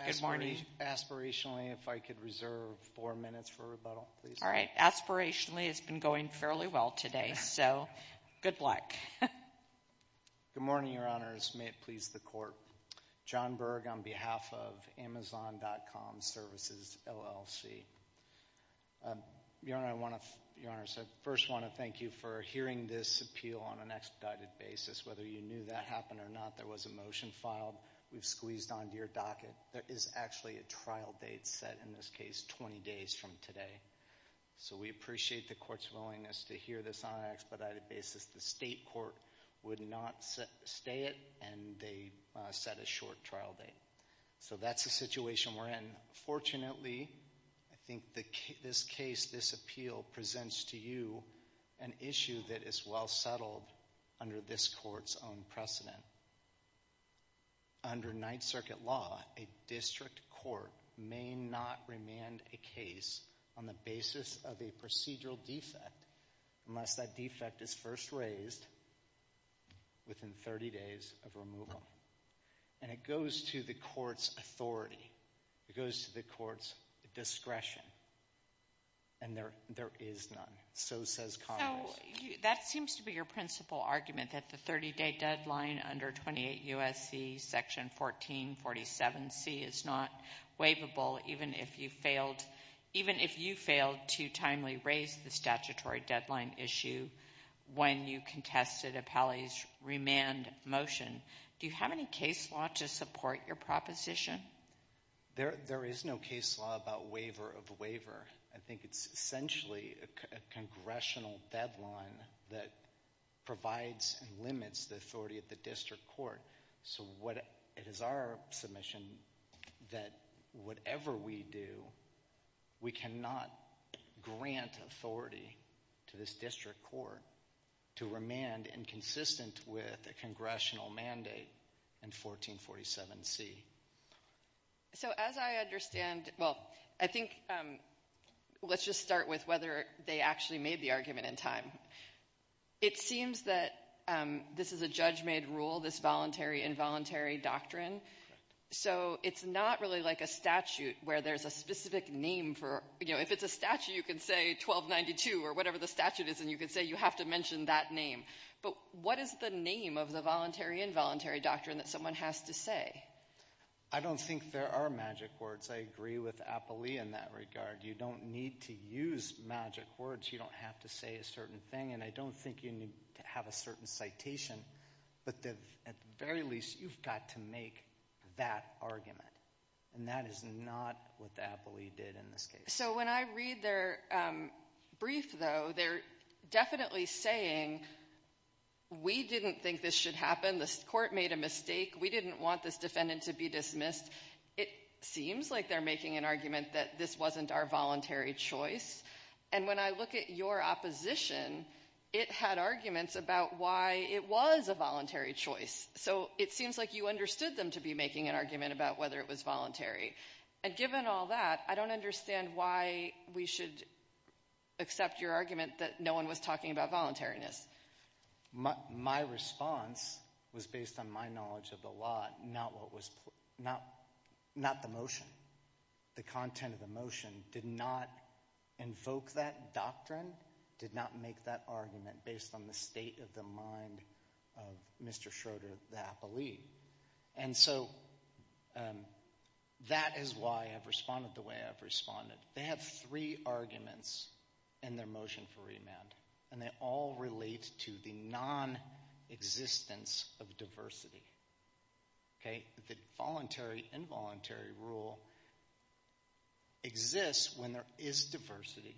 Aspirationally, if I could reserve four minutes for rebuttal, please. All right. Aspirationally, it's been going fairly well today, so good luck. Good morning, Your Honors. May it please the Court. John Berg on behalf of Amazon.com Services, LLC. Your Honors, I first want to thank you for hearing this appeal on an expedited basis. Whether you knew that happened or not, there was a motion filed. We've squeezed onto your docket. There is actually a trial date set, in this case, 20 days from today. So we appreciate the Court's willingness to hear this on an expedited basis. The state court would not stay it, and they set a short trial date. So that's the situation we're in. Fortunately, I think this case, this appeal, presents to you an issue that is well settled under this Court's own precedent. Under Ninth Circuit law, a district court may not remand a case on the basis of a procedural defect unless that defect is first raised within 30 days of removal. And it goes to the Court's authority. It goes to the Court's discretion. And there is none. So says Congress. That seems to be your principal argument, that the 30-day deadline under 28 U.S.C. Section 1447C is not waivable, even if you failed to timely raise the statutory deadline issue when you contested appellee's remand motion. Do you have any case law to support your proposition? There is no case law about waiver of waiver. I think it's essentially a congressional deadline that provides and limits the authority of the district court. So it is our submission that whatever we do, we cannot grant authority to this district court to remand inconsistent with a congressional mandate in 1447C. So as I understand, well, I think let's just start with whether they actually made the argument in time. It seems that this is a judge-made rule, this voluntary-involuntary doctrine. So it's not really like a statute where there's a specific name for, you know, if it's a statute, you can say 1292 or whatever the statute is, and you can say you have to mention that name. But what is the name of the voluntary-involuntary doctrine that someone has to say? I don't think there are magic words. I agree with appellee in that regard. You don't need to use magic words. You don't have to say a certain thing. And I don't think you need to have a certain citation. But at the very least, you've got to make that argument. And that is not what the appellee did in this case. So when I read their brief, though, they're definitely saying we didn't think this should happen, the court made a mistake, we didn't want this defendant to be dismissed. It seems like they're making an argument that this wasn't our voluntary choice. And when I look at your opposition, it had arguments about why it was a voluntary choice. So it seems like you understood them to be making an argument about whether it was voluntary. And given all that, I don't understand why we should accept your argument that no one was talking about voluntariness. My response was based on my knowledge of the law, not the motion. The content of the motion did not invoke that doctrine, did not make that argument, based on the state of the mind of Mr. Schroeder, the appellee. And so that is why I've responded the way I've responded. They have three arguments in their motion for remand, and they all relate to the nonexistence of diversity. The voluntary-involuntary rule exists when there is diversity.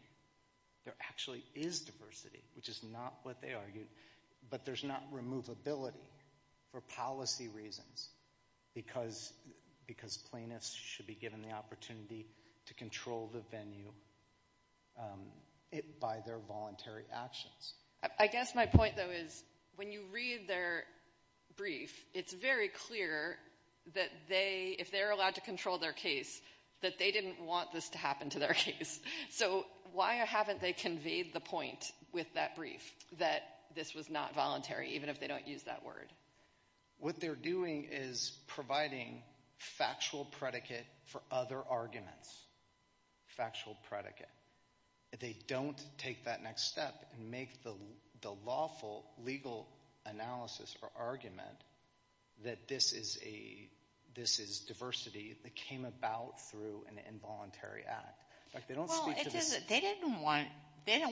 There actually is diversity, which is not what they argued. But there's not removability for policy reasons, because plaintiffs should be given the opportunity to control the venue by their voluntary actions. I guess my point, though, is when you read their brief, it's very clear that if they're allowed to control their case, that they didn't want this to happen to their case. So why haven't they conveyed the point with that brief that this was not voluntary, even if they don't use that word? What they're doing is providing factual predicate for other arguments. Factual predicate. They don't take that next step and make the lawful legal analysis or argument that this is diversity that came about through an involuntary act. They don't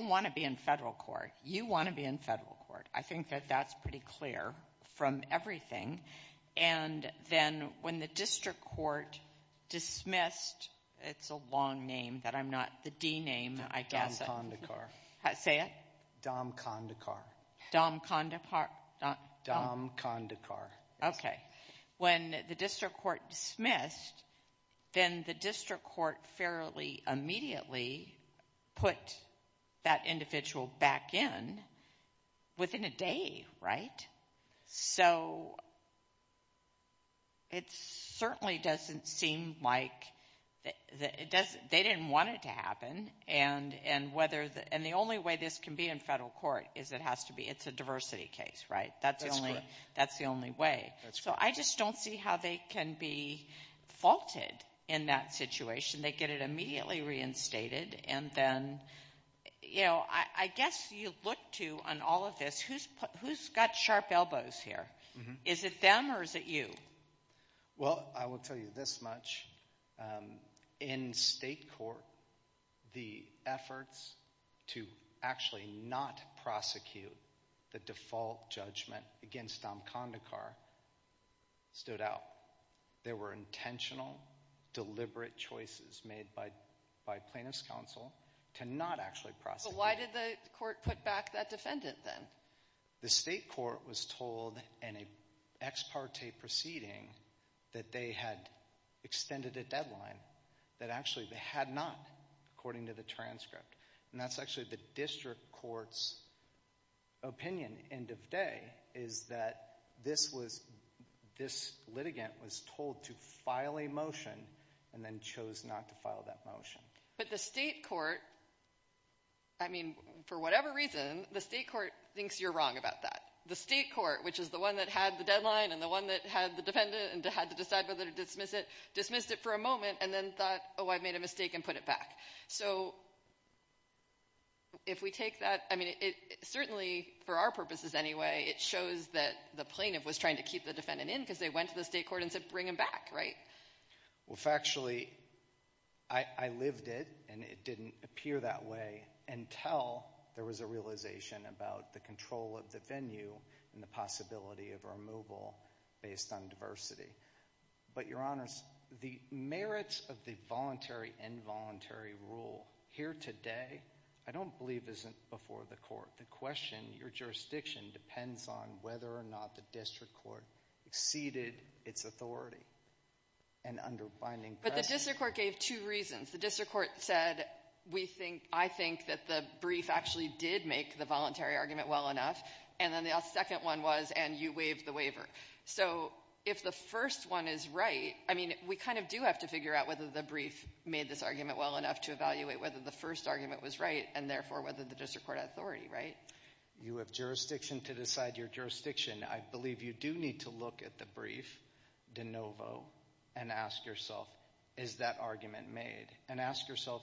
want to be in federal court. You want to be in federal court. I think that that's pretty clear from everything. And then when the district court dismissed the district court fairly, they immediately put that individual back in within a day, right? So it certainly doesn't seem like they didn't want it to happen. And the only way this can be in federal court is it has to be. It's a diversity case, right? That's the only way. So I just don't see how they can be faulted in that situation. They get it immediately reinstated, and then, you know, I guess you look to on all of this, who's got sharp elbows here? Is it them or is it you? Well, I will tell you this much. In state court, the efforts to actually not prosecute the default judgment against Dom Kondekar stood out. There were intentional, deliberate choices made by plaintiff's counsel to not actually prosecute. So why did the court put back that defendant then? The state court was told in an ex parte proceeding that they had extended a deadline, that actually they had not, according to the transcript. And that's actually the district court's opinion, end of day, is that this litigant was told to file a motion and then chose not to file that motion. But the state court, I mean, for whatever reason, the state court thinks you're wrong about that. The state court, which is the one that had the deadline and the one that had the defendant and had to decide whether to dismiss it, dismissed it for a moment and then thought, oh, I've made a mistake and put it back. So if we take that, I mean, certainly for our purposes anyway, it shows that the plaintiff was trying to keep the defendant in because they went to the state court and said bring him back, right? Well, factually, I lived it, and it didn't appear that way until there was a realization about the control of the venue and the possibility of removal based on diversity. But, Your Honors, the merits of the voluntary involuntary rule here today I don't believe isn't before the court. The question, your jurisdiction, depends on whether or not the district court exceeded its authority and under binding precedent. But the district court gave two reasons. The district court said, I think that the brief actually did make the voluntary argument well enough. And then the second one was, and you waived the waiver. So if the first one is right, I mean, we kind of do have to figure out whether the brief made this argument well enough to evaluate whether the first argument was right and therefore whether the district court had authority, right? You have jurisdiction to decide your jurisdiction. I believe you do need to look at the brief de novo and ask yourself, is that argument made? And ask yourself,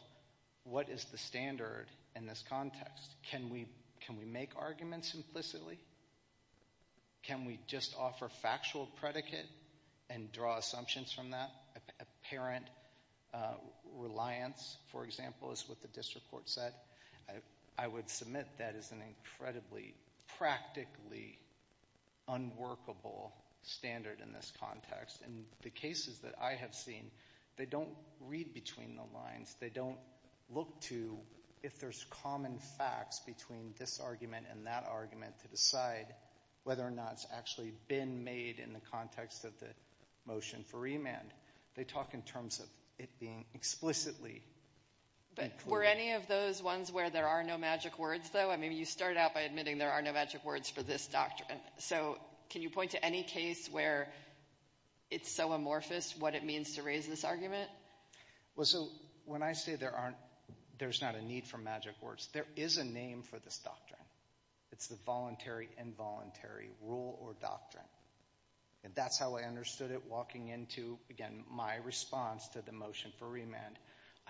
what is the standard in this context? Can we make arguments implicitly? Can we just offer factual predicate and draw assumptions from that? Apparent reliance, for example, is what the district court said. I would submit that is an incredibly practically unworkable standard in this context. And the cases that I have seen, they don't read between the lines. They don't look to if there's common facts between this argument and that argument to decide whether or not it's actually been made in the context of the motion for remand. They talk in terms of it being explicitly. But were any of those ones where there are no magic words, though? I mean, you started out by admitting there are no magic words for this doctrine. So can you point to any case where it's so amorphous what it means to raise this argument? Well, so when I say there's not a need for magic words, there is a name for this doctrine. It's the voluntary involuntary rule or doctrine. And that's how I understood it walking into, again, my response to the motion for remand.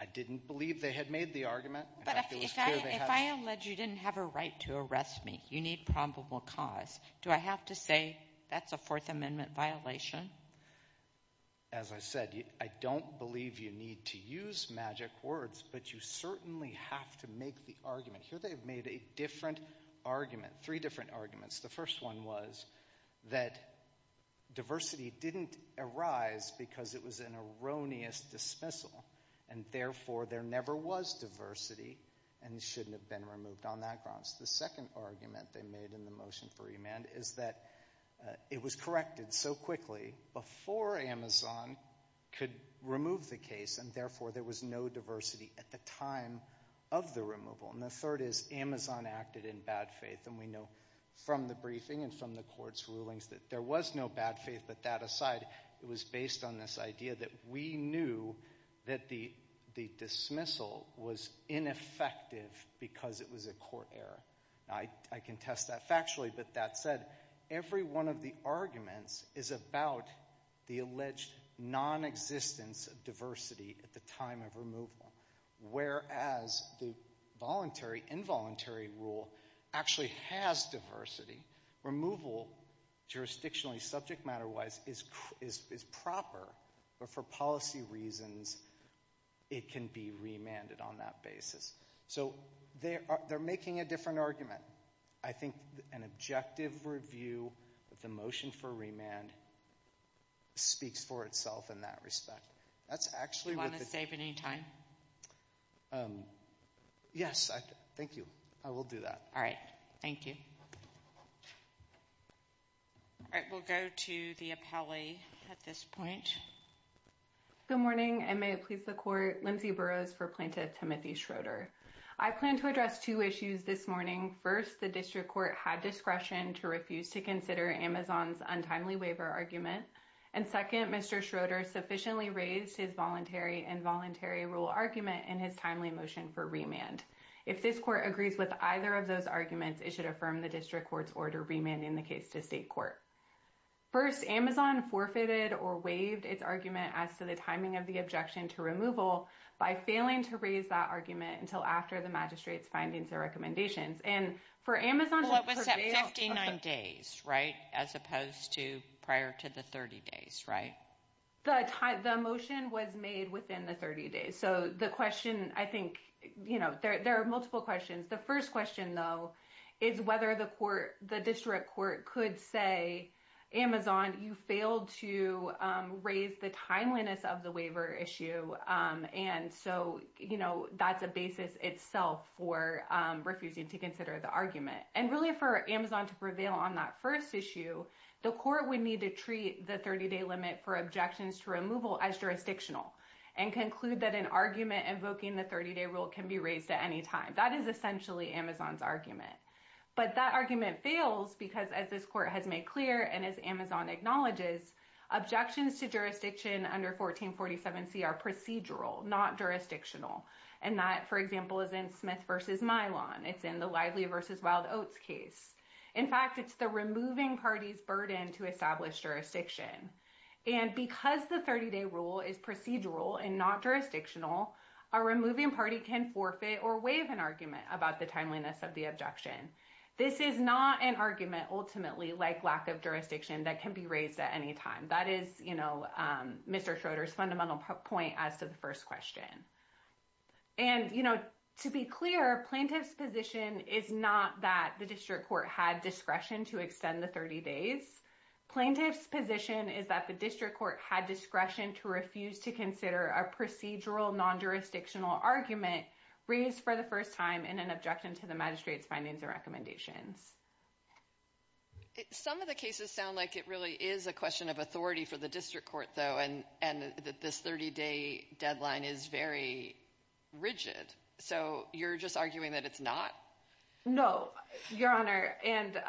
I didn't believe they had made the argument. But if I allege you didn't have a right to arrest me, you need probable cause. Do I have to say that's a Fourth Amendment violation? As I said, I don't believe you need to use magic words, but you certainly have to make the argument. Here they've made a different argument, three different arguments. The first one was that diversity didn't arise because it was an erroneous dismissal, and therefore there never was diversity and it shouldn't have been removed on that grounds. The second argument they made in the motion for remand is that it was corrected so quickly before Amazon could remove the case, and therefore there was no diversity at the time of the removal. And the third is Amazon acted in bad faith. And we know from the briefing and from the court's rulings that there was no bad faith. But that aside, it was based on this idea that we knew that the dismissal was ineffective because it was a court error. I can test that factually, but that said, every one of the arguments is about the alleged nonexistence of diversity at the time of removal, whereas the voluntary, involuntary rule actually has diversity. Removal, jurisdictionally, subject matter-wise, is proper, but for policy reasons it can be remanded on that basis. So they're making a different argument. I think an objective review of the motion for remand speaks for itself in that respect. Do you want to save any time? Yes, thank you. I will do that. All right, thank you. All right, we'll go to the appellee at this point. Good morning, and may it please the court. Lindsay Burrows for Plaintiff Timothy Schroeder. I plan to address two issues this morning. First, the district court had discretion to refuse to consider Amazon's untimely waiver argument. And second, Mr. Schroeder sufficiently raised his voluntary, involuntary rule argument in his timely motion for remand. If this court agrees with either of those arguments, it should affirm the district court's order remanding the case to state court. First, Amazon forfeited or waived its argument as to the timing of the objection to removal by failing to raise that argument until after the magistrate's findings or recommendations. And for Amazon to prevail- Well, it was at 59 days, right, as opposed to prior to the 30 days, right? The motion was made within the 30 days. So the question, I think, you know, there are multiple questions. The first question, though, is whether the court, the district court could say, Amazon, you failed to raise the timeliness of the waiver issue. And so, you know, that's a basis itself for refusing to consider the argument. And really for Amazon to prevail on that first issue, the court would need to treat the 30-day limit for objections to removal as jurisdictional and conclude that an argument invoking the 30-day rule can be raised at any time. That is essentially Amazon's argument. But that argument fails because as this court has made clear and as Amazon acknowledges, objections to jurisdiction under 1447C are procedural, not jurisdictional. And that, for example, is in Smith v. Milan. It's in the Lively v. Wild Oats case. In fact, it's the removing party's burden to establish jurisdiction. And because the 30-day rule is procedural and not jurisdictional, a removing party can forfeit or waive an argument about the timeliness of the objection. This is not an argument ultimately like lack of jurisdiction that can be raised at any time. That is, you know, Mr. Schroeder's fundamental point as to the first question. And, you know, to be clear, plaintiff's position is not that the district court had discretion to extend the 30 days. Plaintiff's position is that the district court had discretion to refuse to consider a procedural non-jurisdictional argument raised for the first time in an objection to the magistrate's findings and recommendations. Some of the cases sound like it really is a question of authority for the district court, though, and that this 30-day deadline is very rigid. So you're just arguing that it's not? No, Your Honor. And,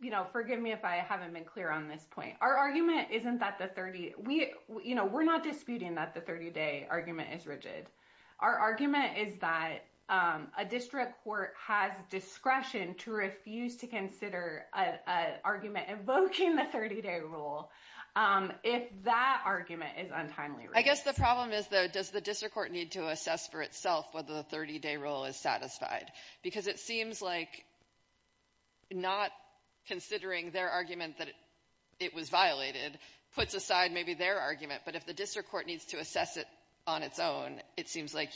you know, forgive me if I haven't been clear on this point. Our argument isn't that the 30 we you know, we're not disputing that the 30-day argument is rigid. Our argument is that a district court has discretion to refuse to consider an argument invoking the 30-day rule if that argument is untimely. I guess the problem is, though, does the district court need to assess for itself whether the 30-day rule is satisfied? Because it seems like not considering their argument that it was violated puts aside maybe their argument. But if the district court needs to assess it on its own, it seems like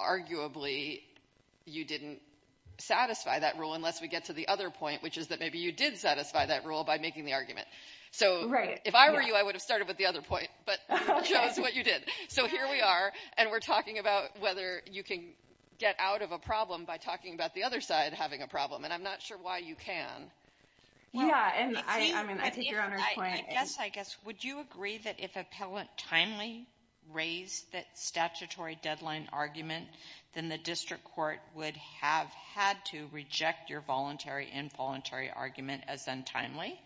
arguably you didn't satisfy that rule unless we get to the other point, which is that maybe you did satisfy that rule by making the argument. So if I were you, I would have started with the other point, but you chose what you did. So here we are, and we're talking about whether you can get out of a problem by talking about the other side having a problem, and I'm not sure why you can. Yeah, and I mean, I take Your Honor's point. Yes, I guess. Would you agree that if appellant timely raised that statutory deadline argument, then the district court would have had to reject your voluntary and involuntary argument as untimely?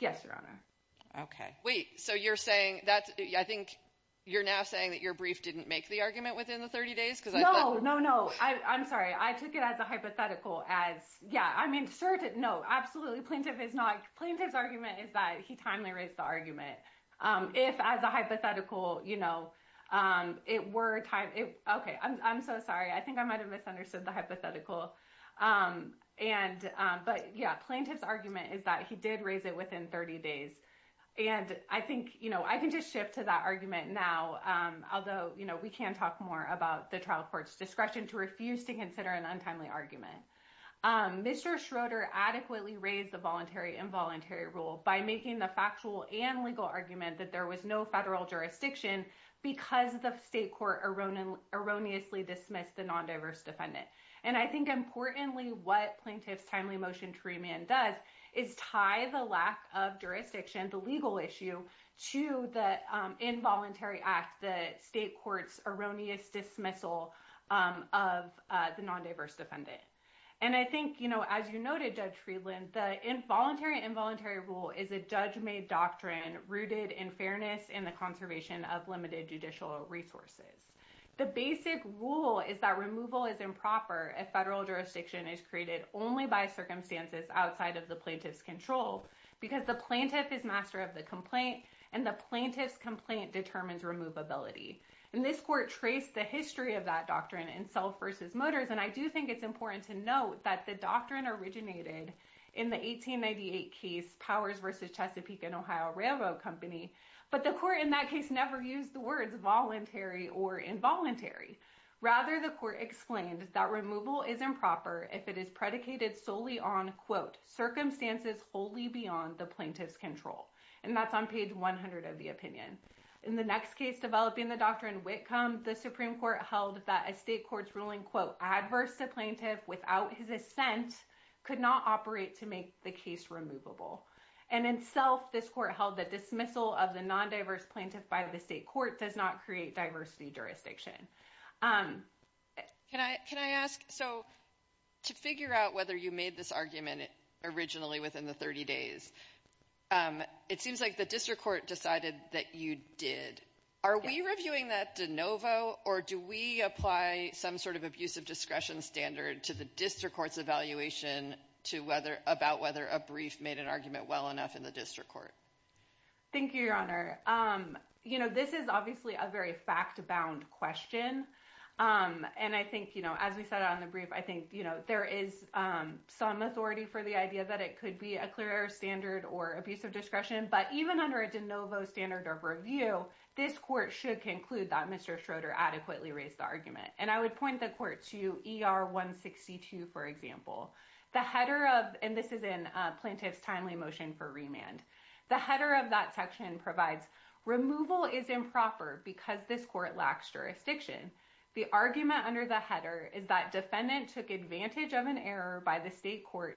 Yes, Your Honor. Okay. Wait, so you're saying that's – I think you're now saying that your brief didn't make the argument within the 30 days? No, no, no. I'm sorry. I took it as a hypothetical as – yeah, I mean, no, absolutely plaintiff is not – plaintiff's argument is that he timely raised the argument. If as a hypothetical, you know, it were – okay, I'm so sorry. I think I might have misunderstood the hypothetical. And – but yeah, plaintiff's argument is that he did raise it within 30 days, and I think, you know, I can just shift to that argument now, although, you know, we can talk more about the trial court's discretion to refuse to consider an untimely argument. Mr. Schroeder adequately raised the voluntary involuntary rule by making the factual and legal argument that there was no federal jurisdiction because the state court erroneously dismissed the nondiverse defendant. And I think importantly what plaintiff's timely motion to remand does is tie the lack of jurisdiction, the legal issue, to the involuntary act, the state court's erroneous dismissal of the nondiverse defendant. And I think, you know, as you noted, Judge Friedland, the involuntary involuntary rule is a judge-made doctrine rooted in fairness and the conservation of limited judicial resources. The basic rule is that removal is improper if federal jurisdiction is created only by circumstances outside of the plaintiff's control because the plaintiff is master of the complaint, and the plaintiff's complaint determines removability. And this court traced the history of that doctrine in Self v. Motors, and I do think it's important to note that the doctrine originated in the 1898 case Powers v. Chesapeake & Ohio Railroad Company, but the court in that case never used the words voluntary or involuntary. Rather, the court explained that removal is improper if it is predicated solely on, quote, circumstances wholly beyond the plaintiff's control, and that's on page 100 of the opinion. In the next case developing the doctrine, Whitcomb, the Supreme Court held that a state court's ruling, quote, adverse to plaintiff without his assent could not operate to make the case removable. And in Self, this court held that dismissal of the non-diverse plaintiff by the state court does not create diversity jurisdiction. Can I ask, so to figure out whether you made this argument originally within the 30 days, it seems like the district court decided that you did. Are we reviewing that de novo, or do we apply some sort of abusive discretion standard to the district court's evaluation about whether a brief made an argument well enough in the district court? Thank you, Your Honor. You know, this is obviously a very fact-bound question, and I think, you know, as we said on the brief, I think, you know, there is some authority for the idea that it could be a clear standard or abusive discretion, but even under a de novo standard of review, this court should conclude that Mr. Schroeder adequately raised the argument. And I would point the court to ER 162, for example. The header of, and this is in Plaintiff's Timely Motion for Remand. The header of that section provides, removal is improper because this court lacks jurisdiction. The argument under the header is that defendant took advantage of an error by the state court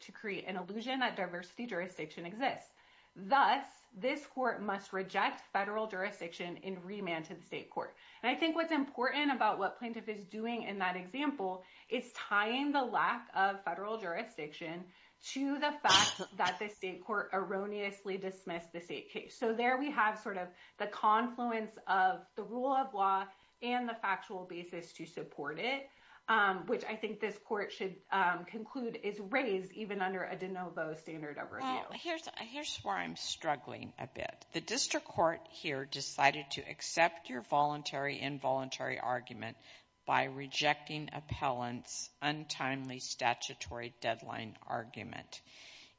to create an illusion that diversity jurisdiction exists. Thus, this court must reject federal jurisdiction in remand to the state court. And I think what's important about what Plaintiff is doing in that example is tying the lack of federal jurisdiction to the fact that the state court erroneously dismissed the state case. So there we have sort of the confluence of the rule of law and the factual basis to support it, which I think this court should conclude is raised even under a de novo standard of review. Here's where I'm struggling a bit. The district court here decided to accept your voluntary involuntary argument by rejecting appellant's untimely statutory deadline argument.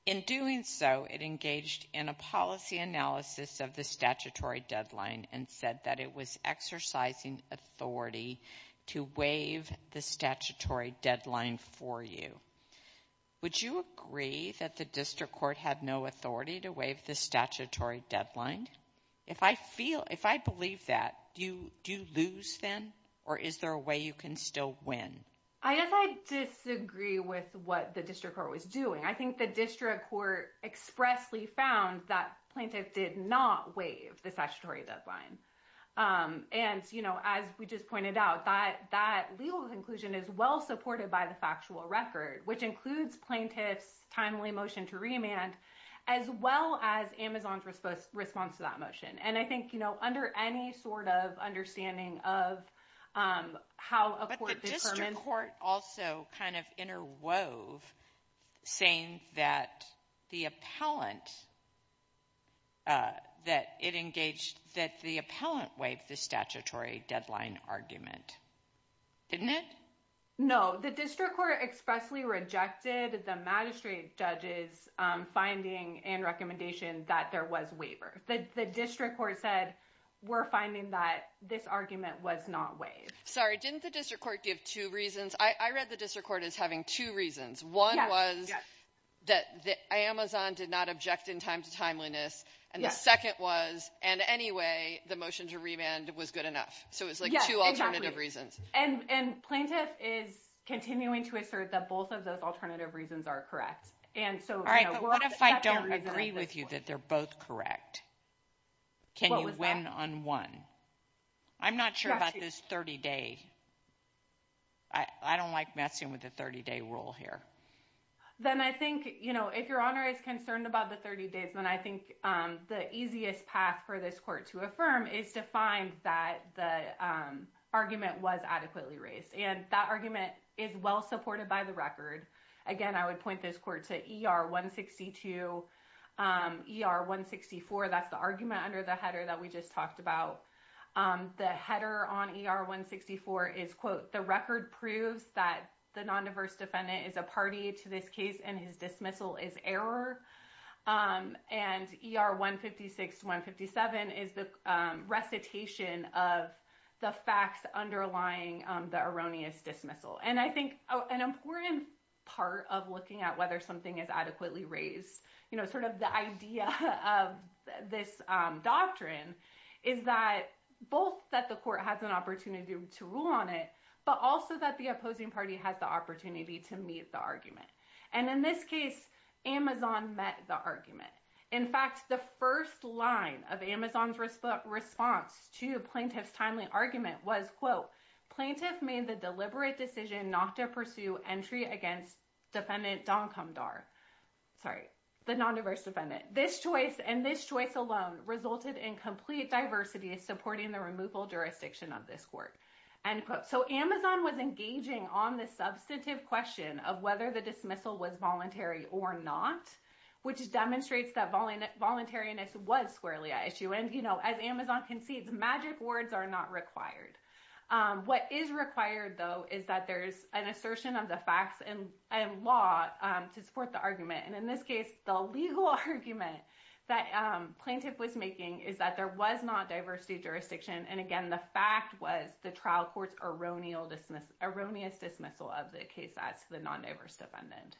In doing so, it engaged in a policy analysis of the statutory deadline and said that it was exercising authority to waive the statutory deadline for you. Would you agree that the district court had no authority to waive the statutory deadline? If I believe that, do you lose then or is there a way you can still win? I disagree with what the district court was doing. I think the district court expressly found that plaintiff did not waive the statutory deadline. As we just pointed out, that legal conclusion is well supported by the factual record, which includes plaintiff's timely motion to remand as well as Amazon's response to that motion. I think under any sort of understanding of how a court determines— saying that the appellant waived the statutory deadline argument, didn't it? No, the district court expressly rejected the magistrate judge's finding and recommendation that there was waiver. The district court said, we're finding that this argument was not waived. Sorry, didn't the district court give two reasons? I read the district court as having two reasons. One was that Amazon did not object in time to timeliness, and the second was, in any way, the motion to remand was good enough. So it was like two alternative reasons. And plaintiff is continuing to assert that both of those alternative reasons are correct. All right, but what if I don't agree with you that they're both correct? Can you win on one? I'm not sure about this 30-day. I don't like messing with the 30-day rule here. Then I think, you know, if Your Honor is concerned about the 30 days, then I think the easiest path for this court to affirm is to find that the argument was adequately raised. And that argument is well supported by the record. Again, I would point this court to ER-162, ER-164. That's the argument under the header that we just talked about. The header on ER-164 is, quote, the record proves that the nondiverse defendant is a party to this case and his dismissal is error. And ER-156-157 is the recitation of the facts underlying the erroneous dismissal. And I think an important part of looking at whether something is adequately raised, you know, sort of the idea of this doctrine is that both that the court has an opportunity to rule on it, but also that the opposing party has the opportunity to meet the argument. And in this case, Amazon met the argument. In fact, the first line of Amazon's response to plaintiff's timely argument was, quote, Plaintiff made the deliberate decision not to pursue entry against defendant Doncumdar. Sorry, the nondiverse defendant. This choice and this choice alone resulted in complete diversity supporting the removal jurisdiction of this court. End quote. So Amazon was engaging on the substantive question of whether the dismissal was voluntary or not, which demonstrates that voluntariness was squarely at issue. And, you know, as Amazon concedes, magic words are not required. What is required, though, is that there is an assertion of the facts and law to support the argument. And in this case, the legal argument that plaintiff was making is that there was not diversity jurisdiction. And, again, the fact was the trial court's erroneous dismissal of the case as to the nondiverse defendant.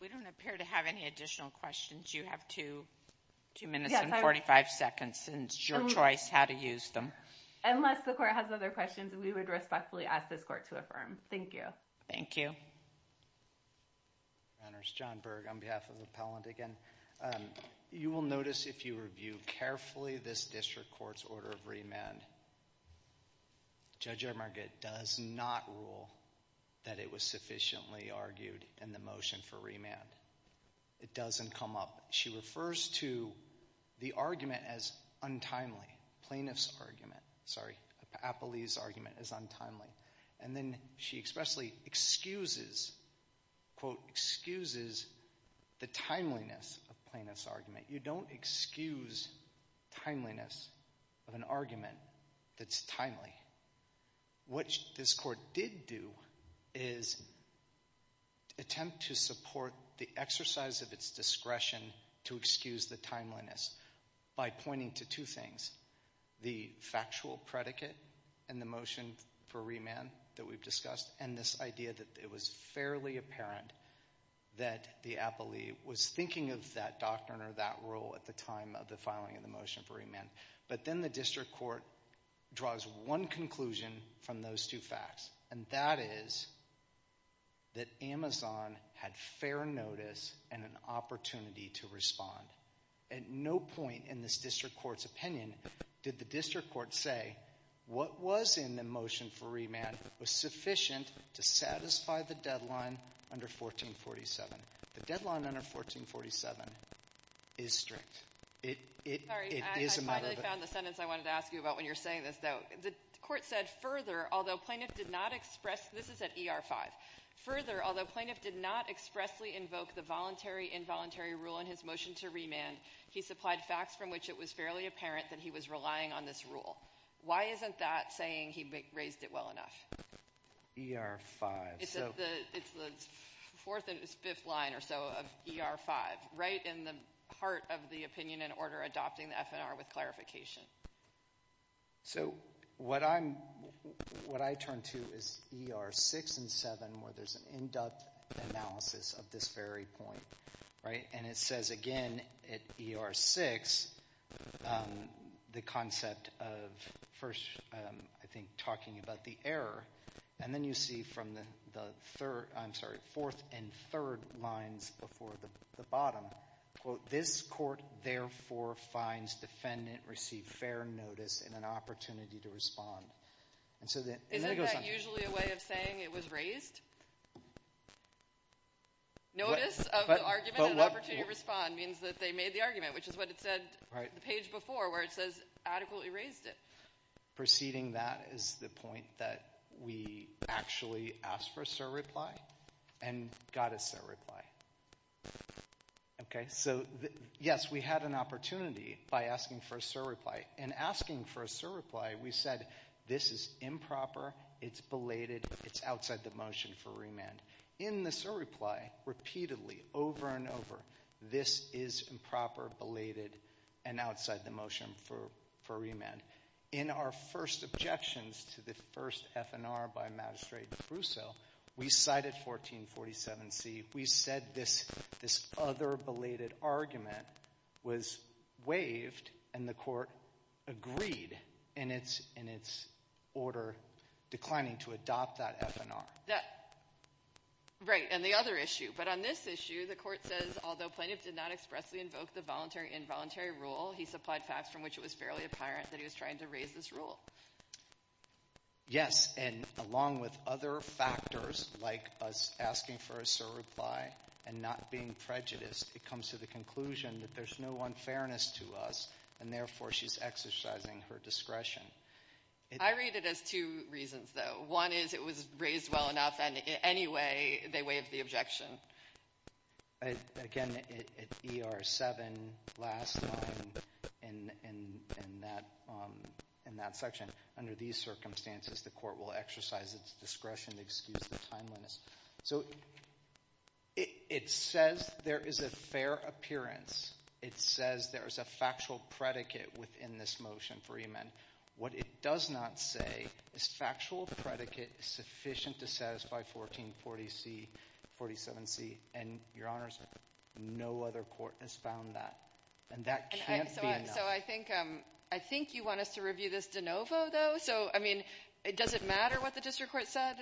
We don't appear to have any additional questions. You have two minutes and 45 seconds. It's your choice how to use them. Unless the court has other questions, we would respectfully ask this court to affirm. Thank you. Thank you. Your Honor, it's John Berg on behalf of the appellant again. You will notice if you review carefully this district court's order of remand, Judge Emerget does not rule that it was sufficiently argued in the motion for remand. It doesn't come up. She refers to the argument as untimely, plaintiff's argument. Sorry, Apolli's argument as untimely. And then she expressly excuses, quote, excuses the timeliness of plaintiff's argument. You don't excuse timeliness of an argument that's timely. What this court did do is attempt to support the exercise of its discretion to excuse the timeliness by pointing to two things, the factual predicate in the motion for remand that we've discussed and this idea that it was fairly apparent that the appellee was thinking of that doctrine or that rule at the time of the filing of the motion for remand. But then the district court draws one conclusion from those two facts, and that is that Amazon had fair notice and an opportunity to respond. At no point in this district court's opinion did the district court say what was in the motion for remand was sufficient to satisfy the deadline under 1447. The deadline under 1447 is strict. It is a matter of the court said further, although plaintiff did not expressly invoke the voluntary, involuntary rule in his motion to remand, he supplied facts from which it was fairly apparent that he was relying on this rule. Why isn't that saying he raised it well enough? ER-5. It's the fourth and fifth line or so of ER-5, right in the heart of the opinion and order adopting the FNR with clarification. So what I turn to is ER-6 and 7 where there's an in-depth analysis of this very point, right? And it says again at ER-6 the concept of first, I think, talking about the error, and then you see from the fourth and third lines before the bottom, quote, this court therefore finds defendant received fair notice and an opportunity to respond. Isn't that usually a way of saying it was raised? Notice of the argument and opportunity to respond means that they made the argument, which is what it said on the page before where it says adequately raised it. Proceeding that is the point that we actually asked for a cert reply and got a cert reply. Okay, so yes, we had an opportunity by asking for a cert reply. In asking for a cert reply, we said this is improper, it's belated, it's outside the motion for remand. In the cert reply, repeatedly, over and over, this is improper, belated, and outside the motion for remand. And in our first objections to the first FNR by Magistrate Brousseau, we cited 1447C. We said this other belated argument was waived, and the court agreed in its order declining to adopt that FNR. Right, and the other issue. But on this issue, the court says although Plaintiff did not expressly invoke the voluntary-involuntary rule, he supplied facts from which it was fairly apparent that he was trying to raise this rule. Yes, and along with other factors like us asking for a cert reply and not being prejudiced, it comes to the conclusion that there's no unfairness to us, and therefore she's exercising her discretion. I read it as two reasons, though. One is it was raised well enough, and in any way they waived the objection. Again, at ER 7, last line in that section, under these circumstances the court will exercise its discretion to excuse the timeliness. So it says there is a fair appearance. It says there is a factual predicate within this motion for remand. What it does not say is factual predicate sufficient to satisfy 1440C, 47C. And, Your Honors, no other court has found that, and that can't be enough. So I think you want us to review this de novo, though? So, I mean, does it matter what the district court said?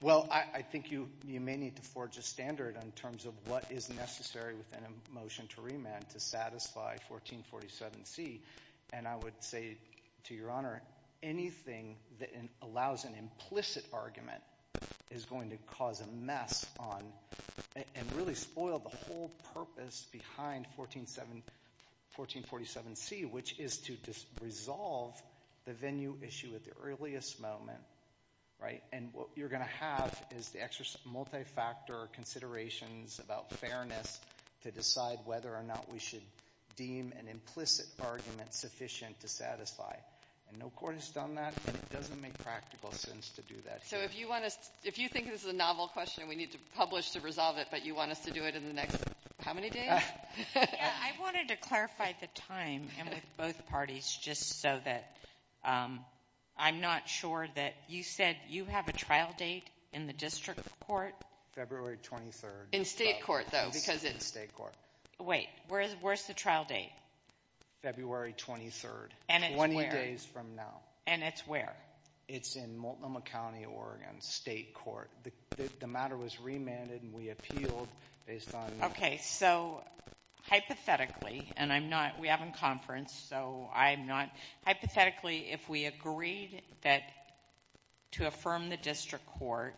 Well, I think you may need to forge a standard in terms of what is necessary within a motion to remand to satisfy 1447C. And I would say, to Your Honor, anything that allows an implicit argument is going to cause a mess on and really spoil the whole purpose behind 1447C, which is to resolve the venue issue at the earliest moment, right? And what you're going to have is the extra multi-factor considerations about fairness to decide whether or not we should deem an implicit argument sufficient to satisfy. And no court has done that, and it doesn't make practical sense to do that here. So if you think this is a novel question and we need to publish to resolve it, but you want us to do it in the next how many days? I wanted to clarify the time with both parties just so that I'm not sure that you said you have a trial date in the district court? February 23rd. In state court, though, because it's- State court. Wait, where's the trial date? February 23rd, 20 days from now. And it's where? It's in Multnomah County, Oregon, state court. The matter was remanded, and we appealed based on- Okay, so hypothetically, and I'm not-we have a conference, so I'm not-hypothetically, if we agreed that-to affirm the district court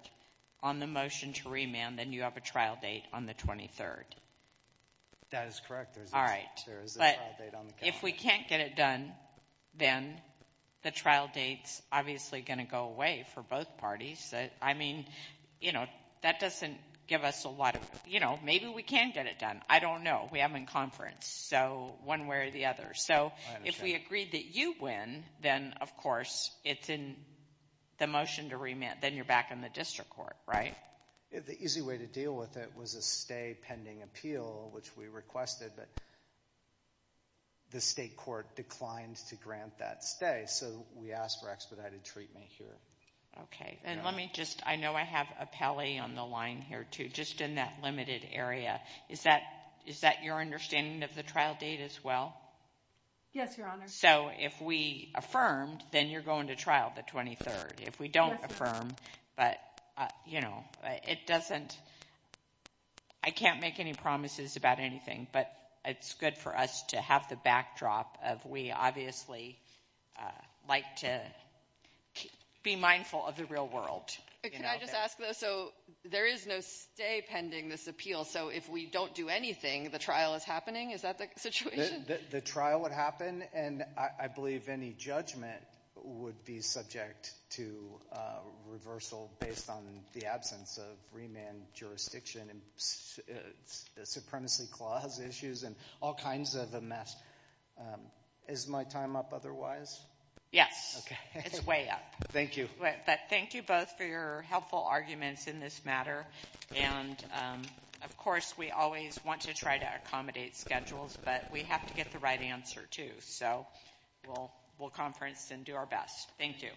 on the motion to remand, then you have a trial date on the 23rd. That is correct. All right. There is a trial date on the calendar. But if we can't get it done, then the trial date's obviously going to go away for both parties. I mean, you know, that doesn't give us a lot of-you know, maybe we can get it done. I don't know. We have a conference, so one way or the other. So if we agree that you win, then, of course, it's in the motion to remand. Then you're back in the district court, right? The easy way to deal with it was a stay pending appeal, which we requested, but the state court declined to grant that stay, so we asked for expedited treatment here. Okay. And let me just-I know I have Apelli on the line here, too, just in that limited area. Is that your understanding of the trial date as well? Yes, Your Honor. So if we affirmed, then you're going to trial the 23rd. If we don't affirm, but, you know, it doesn't-I can't make any promises about anything, but it's good for us to have the backdrop of we obviously like to be mindful of the real world. Can I just ask, though, so there is no stay pending this appeal, so if we don't do anything, the trial is happening? Is that the situation? The trial would happen, and I believe any judgment would be subject to reversal based on the absence of remand jurisdiction and supremacy clause issues and all kinds of a mess. Is my time up otherwise? Yes. Okay. It's way up. Thank you. Thank you both for your helpful arguments in this matter. And, of course, we always want to try to accommodate schedules, but we have to get the right answer, too. So we'll conference and do our best. Thank you.